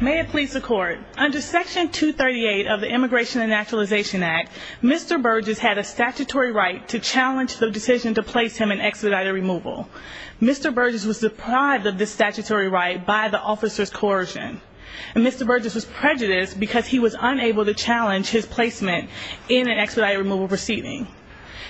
May it please the Court, under Section 238 of the Immigration and Naturalization Act, Mr. Burgess had a statutory right to challenge the decision to place him in expedited removal. Mr. Burgess was deprived of this statutory right by the officer's coercion. And Mr. Burgess was prejudiced because he was unable to challenge his placement in an expedited removal proceeding.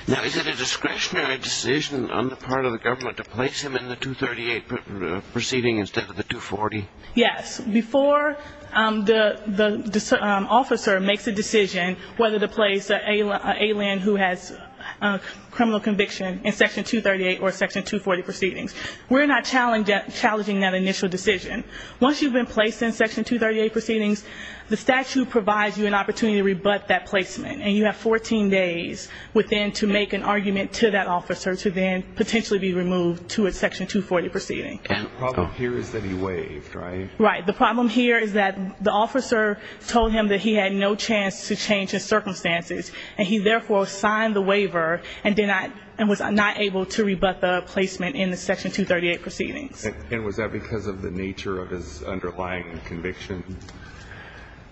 Now is it a discretionary decision on the part of the government to place him in the 238 proceeding instead of the 240? Yes, before the officer makes a decision whether to place an alien who has a criminal conviction in Section 238 or Section 240 proceedings. We're not challenging that initial decision. Once you've been placed in Section 238 proceedings, the statute provides you an opportunity to rebut that placement. And you have 14 days within to make an argument to that officer to then potentially be removed to a Section 240 proceeding. The problem here is that he waived, right? Right. The problem here is that the officer told him that he had no chance to change his circumstances. And he therefore signed the waiver and was not able to rebut the placement in the Section 238 proceedings. And was that because of the nature of his underlying conviction?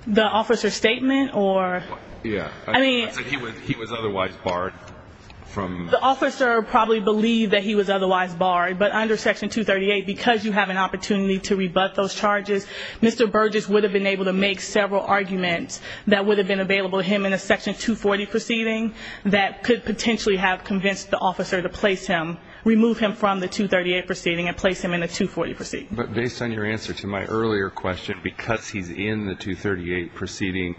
The officer's statement or? Yeah. I mean. He was otherwise barred from. The officer probably believed that he was otherwise barred. But under Section 238, because you have an opportunity to rebut those charges, Mr. Burgess would have been able to make several arguments that would have been available to him in a Section 240 proceeding that could potentially have convinced the officer to place him, remove him from the 238 proceeding and place him in a 240 proceeding. But based on your answer to my earlier question, because he's in the 238 proceeding,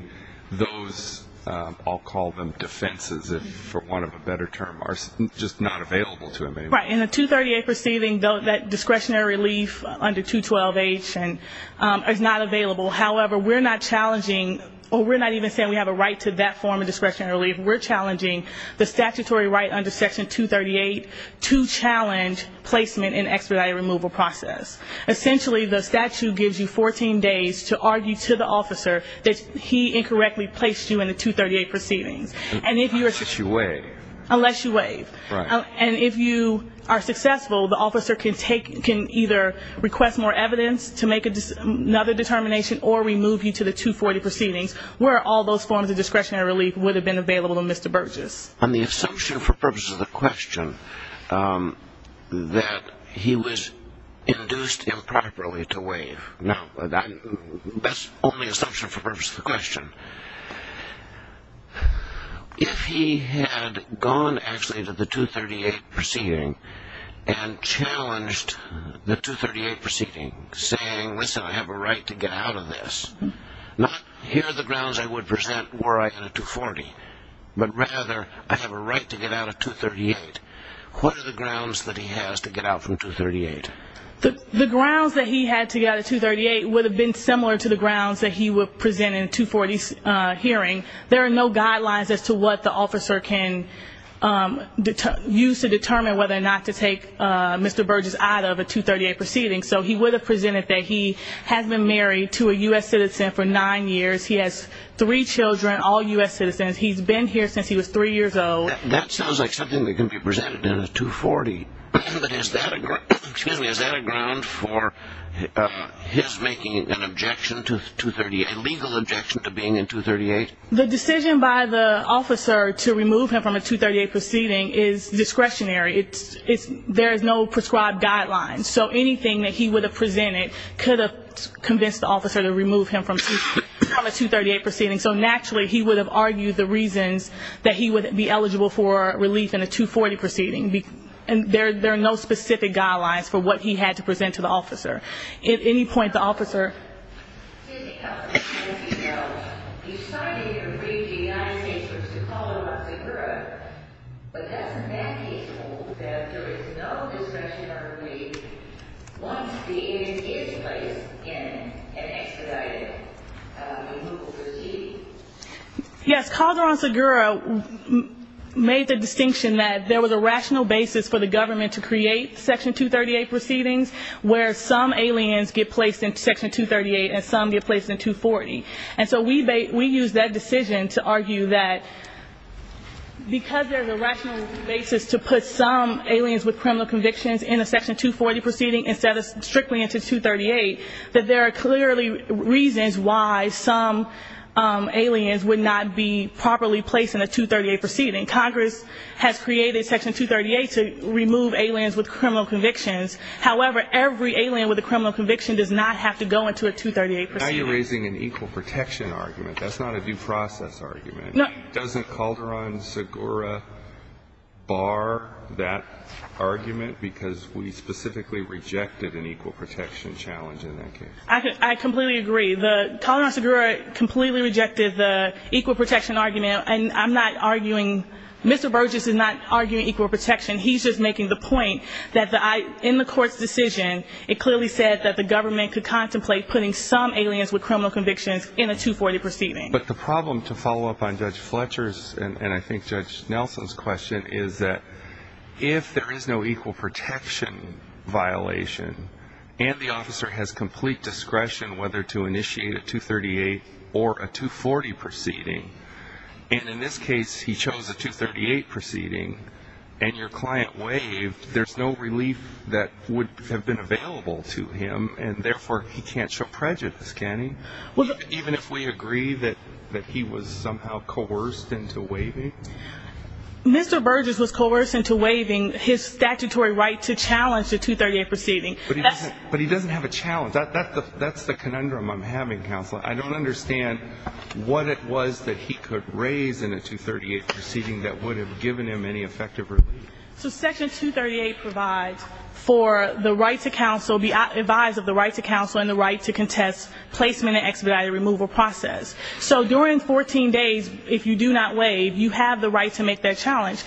those, I'll call them defenses for want of a better term, are just not available to him anymore. Right. In the 238 proceeding, that discretionary relief under 212H is not available. However, we're not challenging or we're not even saying we have a right to that form of discretionary relief. We're challenging the statutory right under Section 238 to challenge placement in the expedited removal process. Essentially, the statute gives you 14 days to argue to the officer that he incorrectly placed you in the 238 proceedings. Unless you waive. Unless you waive. Right. And if you are successful, the officer can either request more evidence to make another determination or remove you to the 240 proceedings where all those forms of discretionary relief would have been available to Mr. Burgess. On the assumption for purposes of the question that he was induced improperly to waive. Now, that's only assumption for purposes of the question. If he had gone actually to the 238 proceeding and challenged the 238 proceeding, saying, listen, I have a right to get out of this, not here are the grounds I would present were I in a 240, but rather I have a right to get out of 238. What are the grounds that he has to get out from 238? The grounds that he had to get out of 238 would have been similar to the grounds that he would present in a 240 hearing. There are no guidelines as to what the officer can use to determine whether or not to take Mr. Burgess out of a 238 proceeding. So he would have presented that he has been married to a U.S. citizen for nine years. He has three children, all U.S. citizens. He's been here since he was three years old. That sounds like something that can be presented in a 240. But is that a ground for his making an objection to 238, a legal objection to being in 238? The decision by the officer to remove him from a 238 proceeding is discretionary. There is no prescribed guidelines. So anything that he would have presented could have convinced the officer to remove him from a 238 proceeding. So naturally, he would have argued the reasons that he would be eligible for relief in a 240 proceeding. There are no specific guidelines for what he had to present to the officer. At any point, the officer ---- Yes, Calderon-Segura made the distinction that there was a rational basis for the government to create Section 238 proceedings, where some aliens get placed in Section 238 and some get placed in 240. And so we used that discretion to make the decision to remove Calderon-Segura. And we used that decision to argue that because there's a rational basis to put some aliens with criminal convictions in a Section 240 proceeding instead of strictly into 238, that there are clearly reasons why some aliens would not be properly placed in a 238 proceeding. Congress has created Section 238 to remove aliens with criminal convictions. However, every alien with a criminal conviction does not have to go into a 238 proceeding. Now you're raising an equal protection argument. That's not a due process argument. Doesn't Calderon-Segura bar that argument because we specifically rejected an equal protection challenge in that case? I completely agree. Calderon-Segura completely rejected the equal protection argument. And I'm not arguing ---- Mr. Burgess is not arguing equal protection. He's just making the point that in the court's decision, it clearly said that the government could contemplate putting some aliens with criminal convictions in a 240 proceeding. But the problem, to follow up on Judge Fletcher's and I think Judge Nelson's question, is that if there is no equal protection violation and the officer has complete discretion whether to initiate a 238 or a 240 proceeding, and in this case he chose a 238 proceeding and your client waived, there's no relief that would have been available to him and therefore he can't show prejudice, can he? Even if we agree that he was somehow coerced into waiving? Mr. Burgess was coerced into waiving his statutory right to challenge the 238 proceeding. But he doesn't have a challenge. That's the conundrum I'm having, Counselor. I don't understand what it was that he could raise in a 238 proceeding that would have given him any effective relief. So Section 238 provides for the right to counsel, be advised of the right to counsel and the right to contest placement and expedited removal process. So during 14 days, if you do not waive, you have the right to make that challenge.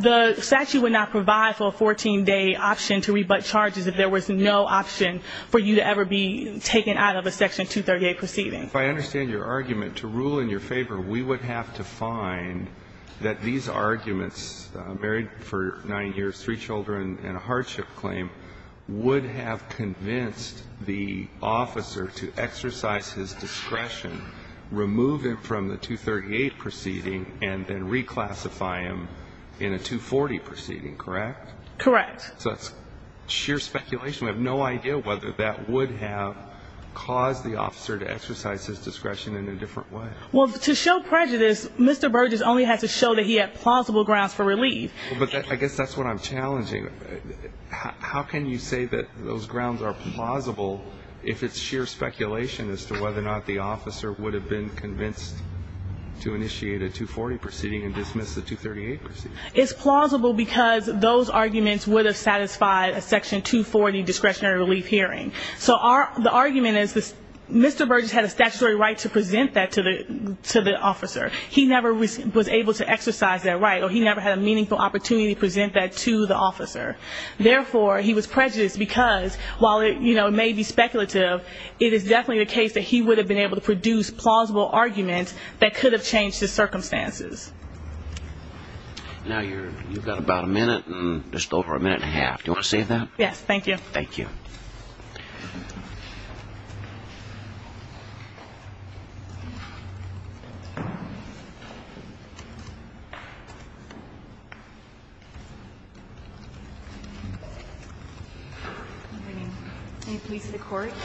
The statute would not provide for a 14-day option to rebut charges if there was no option for you to ever be taken out of a Section 238 proceeding. If I understand your argument, to rule in your favor, we would have to find that these arguments, married for 9 years, 3 children and a hardship claim, would have convinced the officer to exercise his discretion, remove him from the 238 proceeding and then reclassify him in a 240 proceeding, correct? Correct. So it's sheer speculation. We have no idea whether that would have caused the officer to exercise his discretion in a different way. Well, to show prejudice, Mr. Burgess only has to show that he had plausible grounds for relief. But I guess that's what I'm challenging. How can you say that those grounds are plausible if it's sheer speculation as to whether or not the officer would have been convinced to initiate a 240 proceeding and dismiss the 238 proceeding? It's plausible because those arguments would have satisfied a Section 240 discretionary relief hearing. So the argument is Mr. Burgess had a statutory right to present that to the officer. He never was able to exercise that right, or he never had a meaningful opportunity to present that to the officer. Therefore, he was prejudiced because, while it may be speculative, it is definitely the case that he would have been able to produce plausible arguments that could have changed the circumstances. Now you've got about a minute and just over a minute and a half. Do you want to save that? Yes, thank you. Thank you.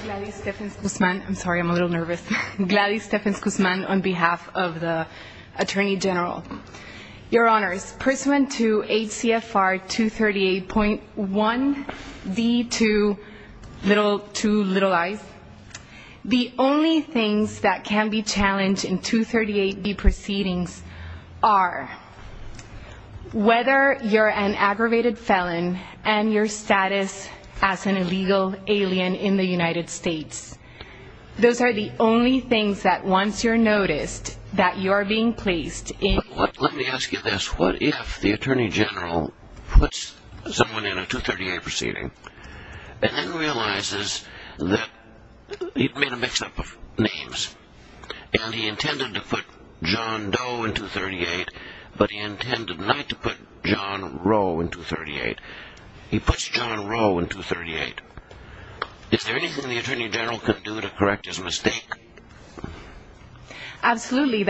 Gladys Stephens-Guzman. I'm sorry, I'm a little nervous. Gladys Stephens-Guzman on behalf of the Attorney General. Your Honors, pursuant to H.C.F.R. 238.1, D.2, little i's, the only things that can be challenged in 238B proceedings are whether you're an aggravated felon and your status as an illegal alien in the United States. Those are the only things that, once you're noticed, that you're being placed in. Let me ask you this. What if the Attorney General puts someone in a 238 proceeding and then realizes that he made a mix-up of names, and he intended to put John Doe in 238, but he intended not to put John Rowe in 238. He puts John Rowe in 238. Is there anything the Attorney General can do to correct his mistake? Absolutely.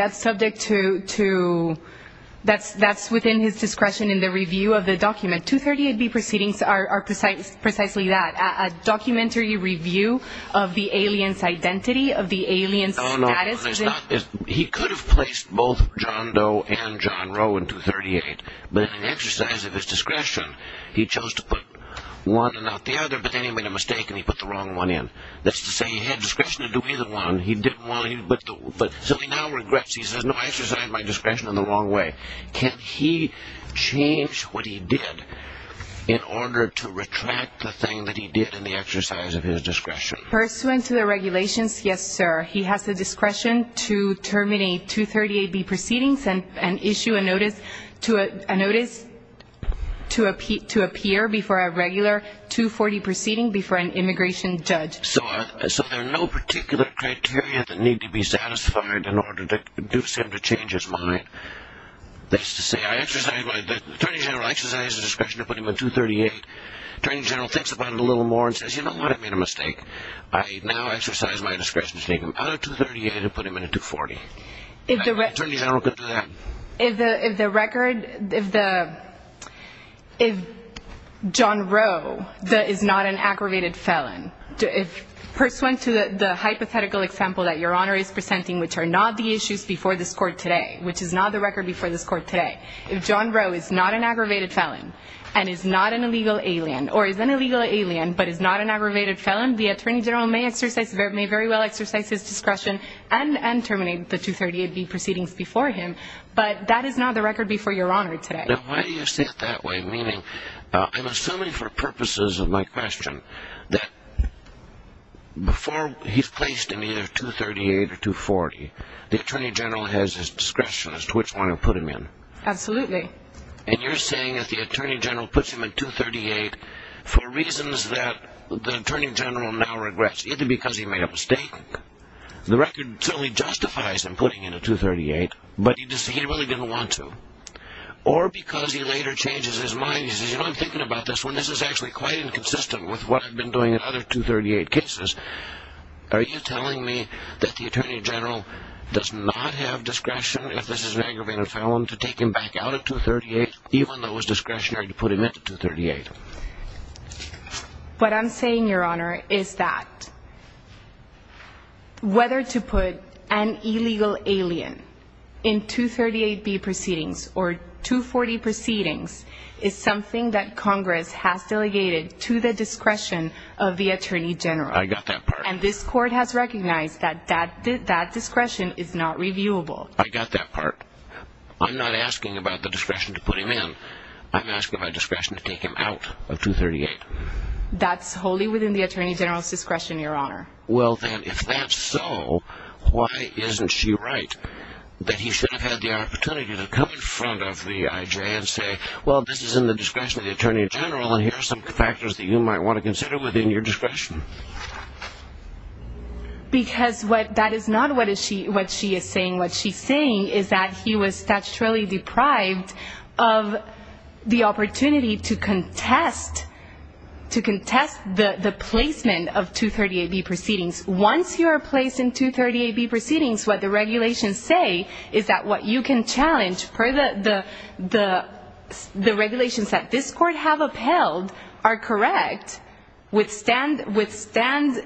That's within his discretion in the review of the document. 238B proceedings are precisely that, a documentary review of the alien's identity, of the alien's status. He could have placed both John Doe and John Rowe in 238, but in an exercise of his discretion, he chose to put one and not the other, and he could have put anybody in a mistake and he put the wrong one in. That's to say he had discretion to do either one. So he now regrets. He says, no, I exercised my discretion in the wrong way. Can he change what he did in order to retract the thing that he did in the exercise of his discretion? Pursuant to the regulations, yes, sir. He has the discretion to terminate 238B proceedings and issue a notice to appear before a regular 240 proceeding before an immigration judge. So there are no particular criteria that need to be satisfied in order to induce him to change his mind. That's to say the Attorney General exercised his discretion to put him in 238. The Attorney General thinks about it a little more and says, you know what, I made a mistake. I now exercise my discretion to take him out of 238 and put him in a 240. The Attorney General can do that. If the record, if John Rowe is not an aggravated felon, pursuant to the hypothetical example that Your Honor is presenting, which are not the issues before this Court today, which is not the record before this Court today, if John Rowe is not an aggravated felon and is not an illegal alien, or is an illegal alien but is not an aggravated felon, the Attorney General may very well exercise his discretion and terminate the 238B proceedings before him. But that is not the record before Your Honor today. Now, why do you say it that way? Meaning, I'm assuming for purposes of my question that before he's placed in either 238 or 240, the Attorney General has his discretion as to which one to put him in. Absolutely. And you're saying that the Attorney General puts him in 238 for reasons that the Attorney General now regrets, either because he made a mistake, the record certainly justifies him putting him in 238, but he really didn't want to, or because he later changes his mind, he says, you know, I'm thinking about this one, this is actually quite inconsistent with what I've been doing in other 238 cases. Are you telling me that the Attorney General does not have discretion, if this is an aggravated felon, to take him back out of 238, even though it was discretionary to put him in 238? What I'm saying, Your Honor, is that whether to put an illegal alien in 238B proceedings or 240 proceedings is something that Congress has delegated to the discretion of the Attorney General. I got that part. And this Court has recognized that that discretion is not reviewable. I got that part. I'm not asking about the discretion to put him in. I'm asking about discretion to take him out of 238. That's wholly within the Attorney General's discretion, Your Honor. Well, then, if that's so, why isn't she right that he should have had the opportunity to come in front of the IJ and say, well, this is in the discretion of the Attorney General, and here are some factors that you might want to consider within your discretion? Because that is not what she is saying. What she's saying is that he was statutorily deprived of the opportunity to contest the placement of 238B proceedings. Once you are placed in 238B proceedings, what the regulations say is that what you can challenge, the regulations that this Court have upheld are correct, withstand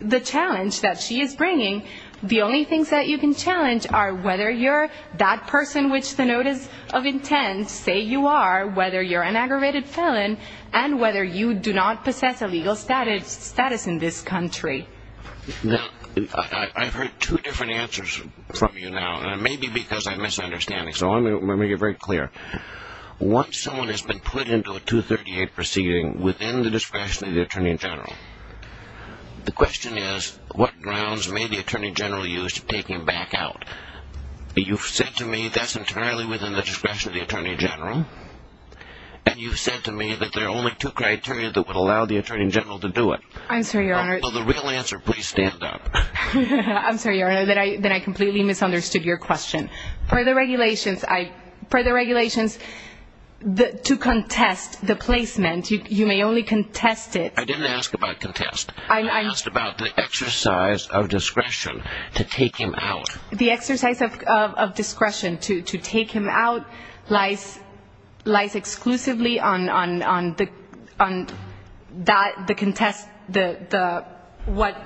the challenge that she is bringing. The only things that you can challenge are whether you're that person which the notice of intent say you are, whether you're an aggravated felon, and whether you do not possess a legal status in this country. Now, I've heard two different answers from you now, and it may be because I'm misunderstanding, so I'm going to make it very clear. Once someone has been put into a 238 proceeding within the discretion of the Attorney General, the question is what grounds may the Attorney General use to take him back out? You've said to me that's entirely within the discretion of the Attorney General, and you've said to me that there are only two criteria that would allow the Attorney General to do it. I'm sorry, Your Honor. Will the real answer please stand up? I'm sorry, Your Honor, that I completely misunderstood your question. Per the regulations, to contest the placement, you may only contest it. I didn't ask about contest. I asked about the exercise of discretion to take him out. The exercise of discretion to take him out lies exclusively on what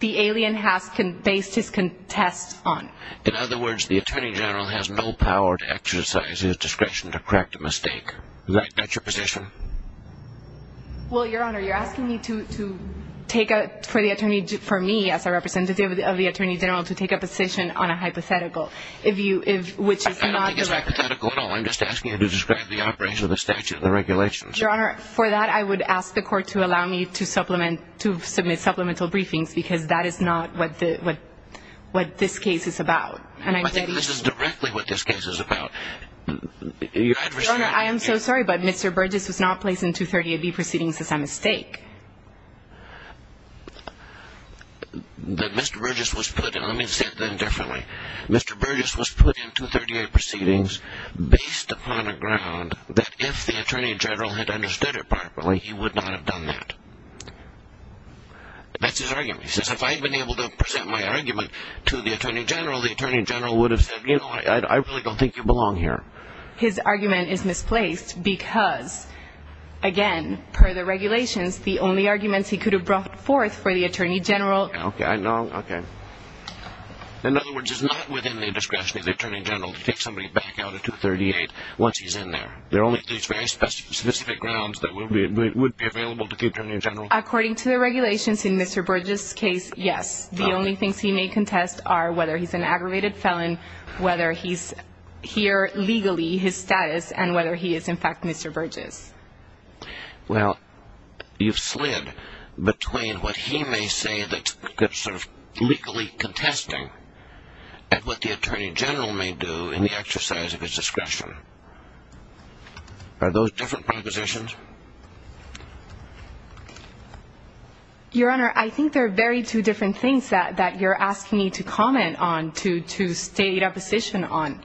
the alien has based his contest on. In other words, the Attorney General has no power to exercise his discretion to correct a mistake. Is that your position? Well, Your Honor, you're asking me to take a, for me as a representative of the Attorney General, to take a position on a hypothetical, which is not the record. I don't think it's hypothetical at all. I'm just asking you to describe the operation of the statute and the regulations. Your Honor, for that I would ask the Court to allow me to submit supplemental briefings because that is not what this case is about. I think this is directly what this case is about. Your Honor, I am so sorry, but Mr. Burgess was not placed in 238B proceedings as a mistake. Mr. Burgess was put in. Let me say it then differently. Mr. Burgess was put in 238 proceedings based upon a ground that if the Attorney General had understood it properly, he would not have done that. That's his argument. He says if I had been able to present my argument to the Attorney General, the Attorney General would have said, you know what, I really don't think you belong here. His argument is misplaced because, again, per the regulations, the only arguments he could have brought forth for the Attorney General. Okay. I know. Okay. In other words, it's not within the discretion of the Attorney General to take somebody back out of 238 once he's in there. There are only these very specific grounds that would be available to the Attorney General. According to the regulations in Mr. Burgess' case, yes. The only things he may contest are whether he's an aggravated felon, whether he's here legally, his status, and whether he is, in fact, Mr. Burgess. Well, you've slid between what he may say that's sort of legally contesting and what the Attorney General may do in the exercise of his discretion. Are those different propositions? Your Honor, I think they're very two different things that you're asking me to comment on, to state a position on.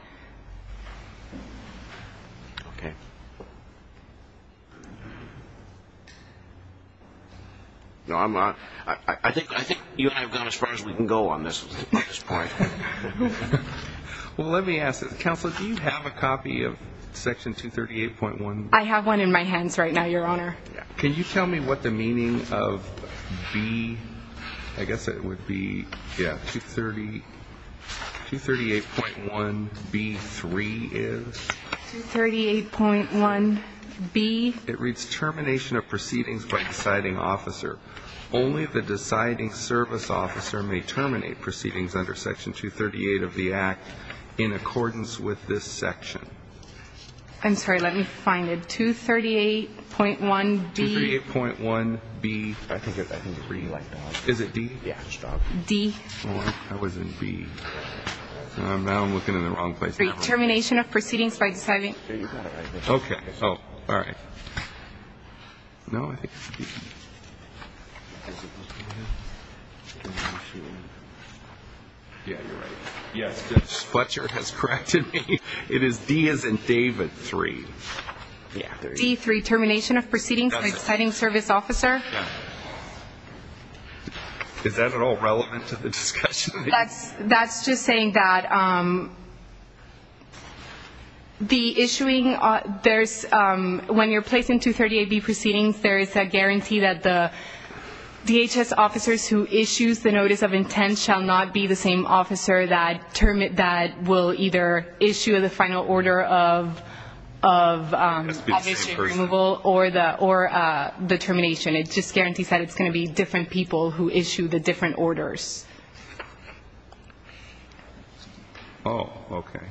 Okay. No, I'm not. I think you and I have gone as far as we can go on this point. Well, let me ask this. Counsel, do you have a copy of Section 238.1? I have one in my hands right now. Can you tell me what the meaning of B, I guess it would be, yeah, 238.1B3 is? 238.1B. It reads, Termination of Proceedings by Deciding Officer. Only the deciding service officer may terminate proceedings under Section 238 of the Act in accordance with this section. I'm sorry. Let me find it. 238.1B. 238.1B. I think it's D. Is it D? Yeah, stop. D. That wasn't B. Now I'm looking in the wrong place. Termination of Proceedings by Deciding Officer. Okay. Oh, all right. No, I think it's D. Yeah, you're right. Yes, Judge Fletcher has corrected me. It is D as in David 3. D3, Termination of Proceedings by Deciding Service Officer. Is that at all relevant to the discussion? That's just saying that the issuing, there's, when you're placing 238B proceedings, there is a guarantee that the DHS officers who issues the Notice of Intent shall not be the same officer that will either issue the final order of admission removal or the termination. It just guarantees that it's going to be different people who issue the different orders. Oh, okay.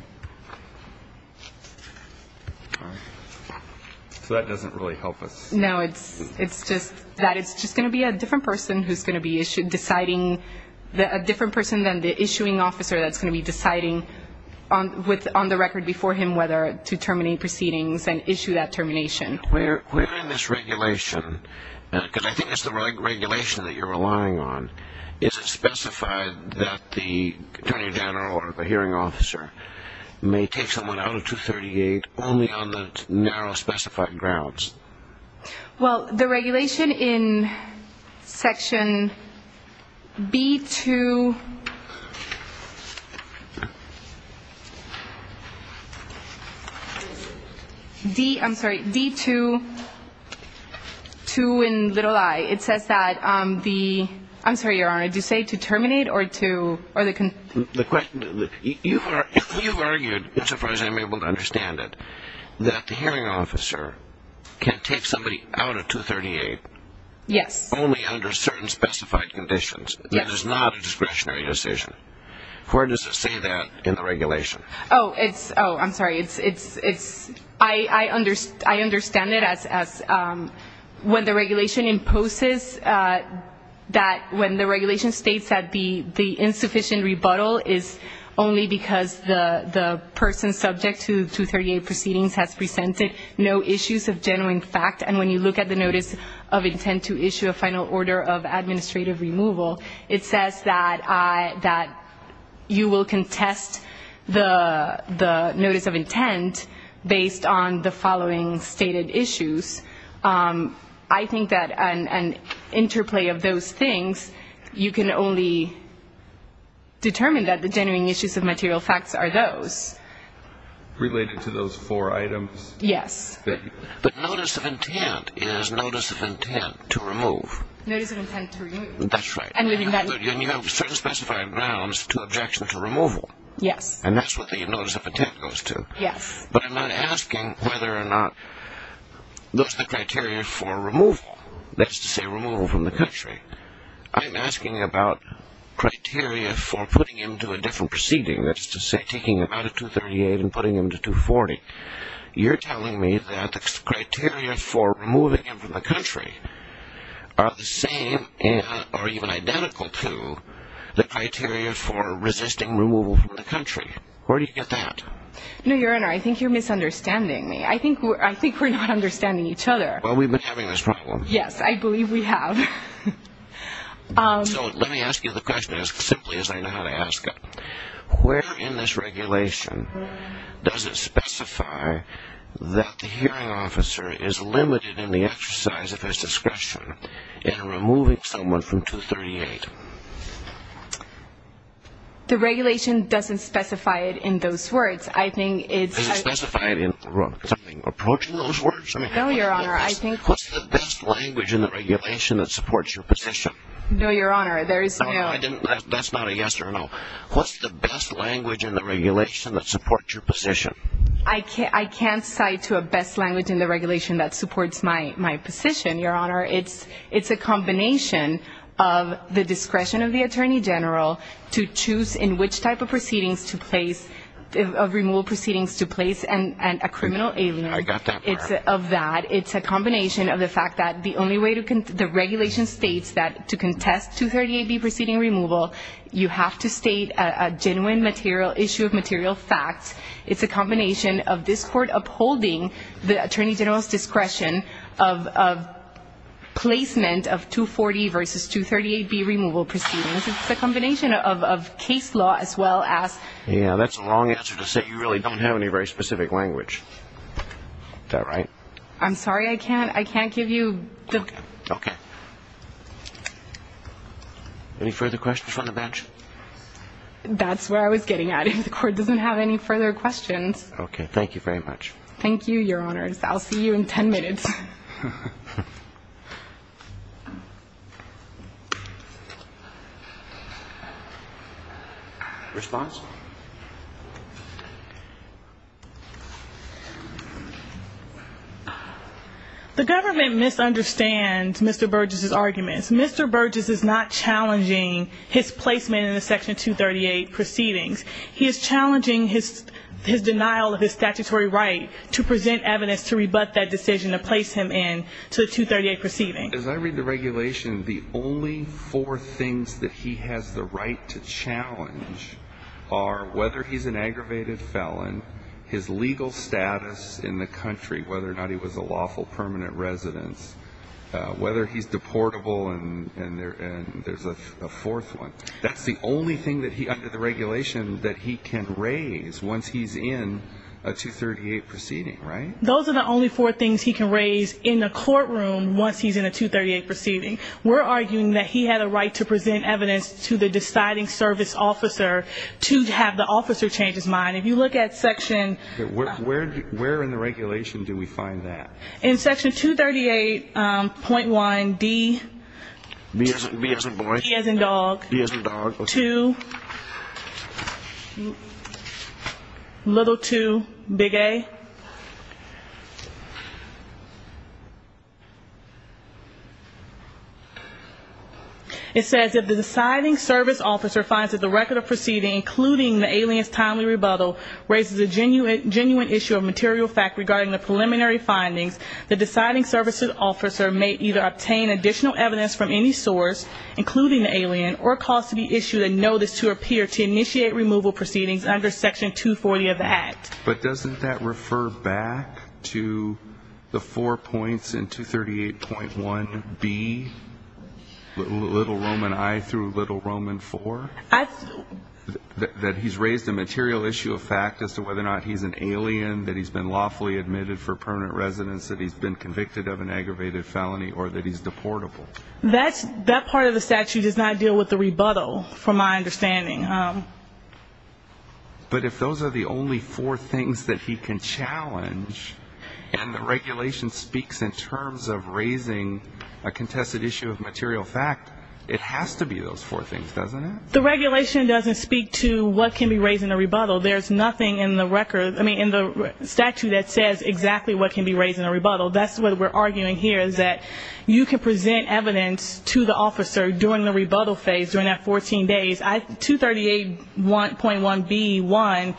So that doesn't really help us. No, it's just that it's just going to be a different person who's going to be deciding, a different person than the issuing officer that's going to be deciding on the record before him whether to terminate proceedings and issue that termination. Where in this regulation, because I think it's the regulation that you're relying on, is it specified that the attorney general or the hearing officer may take someone out of 238 only on the narrow specified grounds? Well, the regulation in Section B2, D, I'm sorry, D2, 2 and little i, it says that the, I'm sorry, Your Honor, do you say to terminate or to, or the, You've argued, as far as I'm able to understand it, that the hearing officer can take somebody out of 238 only under certain specified conditions. That is not a discretionary decision. Where does it say that in the regulation? Oh, it's, oh, I'm sorry, it's, I understand it as when the regulation imposes that, when the regulation states that the insufficient rebuttal is only because the person subject to 238 proceedings has presented no issues of genuine fact, and when you look at the notice of intent to issue a final order of administrative removal, it says that you will contest the notice of intent based on the following stated issues. I think that an interplay of those things, you can only determine that the genuine issues of material facts are those. Related to those four items? Yes. The notice of intent is notice of intent to remove. Notice of intent to remove. That's right. And you have certain specified grounds to objection to removal. Yes. And that's what the notice of intent goes to. Yes. But I'm not asking whether or not those are the criteria for removal, that is to say removal from the country. I'm asking about criteria for putting him to a different proceeding, that is to say taking him out of 238 and putting him to 240. You're telling me that the criteria for removing him from the country are the same or even identical to the criteria for resisting removal from the country. Where do you get that? No, Your Honor, I think you're misunderstanding me. I think we're not understanding each other. Well, we've been having this problem. Yes, I believe we have. So let me ask you the question as simply as I know how to ask it. Where in this regulation does it specify that the hearing officer is limited in the exercise of his discretion in removing someone from 238? The regulation doesn't specify it in those words. Does it specify it in something approaching those words? No, Your Honor. What's the best language in the regulation that supports your position? No, Your Honor. That's not a yes or a no. What's the best language in the regulation that supports your position? I can't cite a best language in the regulation that supports my position, Your Honor. It's a combination of the discretion of the Attorney General to choose in which type of proceedings to place, of removal proceedings to place a criminal alien. I got that part. It's a combination of the fact that the only way the regulation states that to contest 238B proceeding removal, you have to state a genuine issue of material facts. It's a combination of this Court upholding the Attorney General's discretion of placement of 240 versus 238B removal proceedings. It's a combination of case law as well as... Yeah, that's the wrong answer to say you really don't have any very specific language. Is that right? I'm sorry. I can't give you... Okay. Okay. Any further questions from the bench? That's where I was getting at. If the Court doesn't have any further questions... Okay. Thank you very much. Thank you, Your Honors. I'll see you in 10 minutes. Response? The government misunderstands Mr. Burgess' arguments. Mr. Burgess is not challenging his placement in the Section 238 proceedings. He is challenging his denial of his statutory right to present evidence to rebut that decision to place him in to the 238 proceeding. As I read the regulation, the only four things that he has the right to challenge are whether he's an aggravated felon, his legal status in the country, whether or not he was a lawful permanent resident, whether he's deportable, and there's a fourth one. That's the only thing under the regulation that he can raise once he's in a 238 proceeding, right? Those are the only four things he can raise in the courtroom once he's in a 238 proceeding. We're arguing that he had a right to present evidence to the deciding service officer to have the officer change his mind. If you look at Section... Where in the regulation do we find that? In Section 238.1D... B as in boy. B as in dog. B as in dog. 2... Little 2, big A. It says, if the deciding service officer finds that the record of proceeding, including the alien's timely rebuttal, raises a genuine issue of material fact regarding the preliminary findings, the deciding service officer may either obtain additional evidence from any source, including the alien, or cause to be issued a notice to appear to initiate removal proceedings under Section 240 of the Act. But doesn't that refer back to the four points in 238.1B, Little Roman I through Little Roman IV? I... That he's raised a material issue of fact as to whether or not he's an alien, that he's been lawfully admitted for permanent residence, that he's been convicted of an aggravated felony, or that he's deportable. That part of the statute does not deal with the rebuttal, from my understanding. But if those are the only four things that he can challenge, and the regulation speaks in terms of raising a contested issue of material fact, it has to be those four things, doesn't it? The regulation doesn't speak to what can be raised in a rebuttal. There's nothing in the record, I mean, in the statute that says exactly what can be raised in a rebuttal. That's what we're arguing here is that you can present evidence to the officer during the rebuttal phase, during that 14 days. 238.1B.1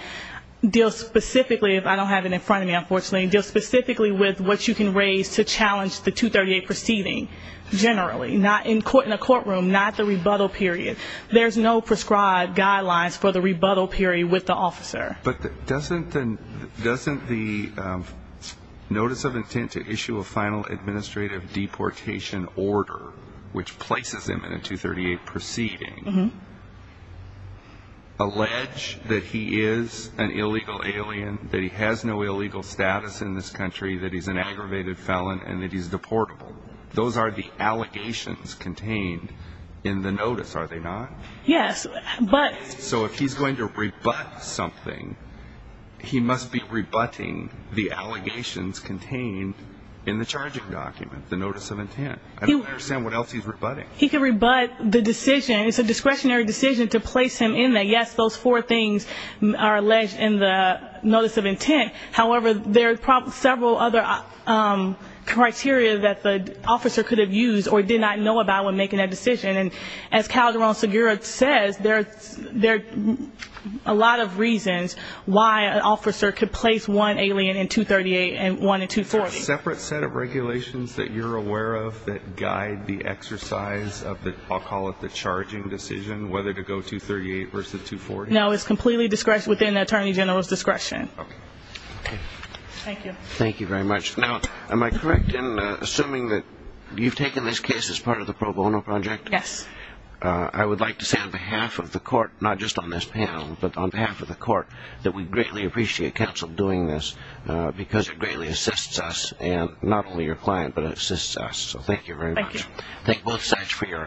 deals specifically, if I don't have it in front of me, unfortunately, deals specifically with what you can raise to challenge the 238 proceeding, generally. Not in a courtroom, not the rebuttal period. There's no prescribed guidelines for the rebuttal period with the officer. But doesn't the notice of intent to issue a final administrative deportation order, which places him in a 238 proceeding, allege that he is an illegal alien, that he has no illegal status in this country, that he's an aggravated felon, and that he's deportable? Those are the allegations contained in the notice, are they not? Yes. So if he's going to rebut something, he must be rebutting the allegations contained in the charging document, the notice of intent. I don't understand what else he's rebutting. He can rebut the decision. It's a discretionary decision to place him in that. Yes, those four things are alleged in the notice of intent. However, there are several other criteria that the officer could have used or did not know about when making that decision. And as Calderon-Segura says, there are a lot of reasons why an officer could place one alien in 238 and one in 240. Is there a separate set of regulations that you're aware of that guide the exercise of the, I'll call it the charging decision, whether to go 238 versus 240? No, it's completely within the Attorney General's discretion. Okay. Thank you. Thank you very much. Now, am I correct in assuming that you've taken this case as part of the pro bono project? Yes. I would like to say on behalf of the court, not just on this panel, but on behalf of the court that we greatly appreciate counsel doing this because it greatly assists us and not only your client, but it assists us. So thank you very much. Thank you. Thank both sides for your argument.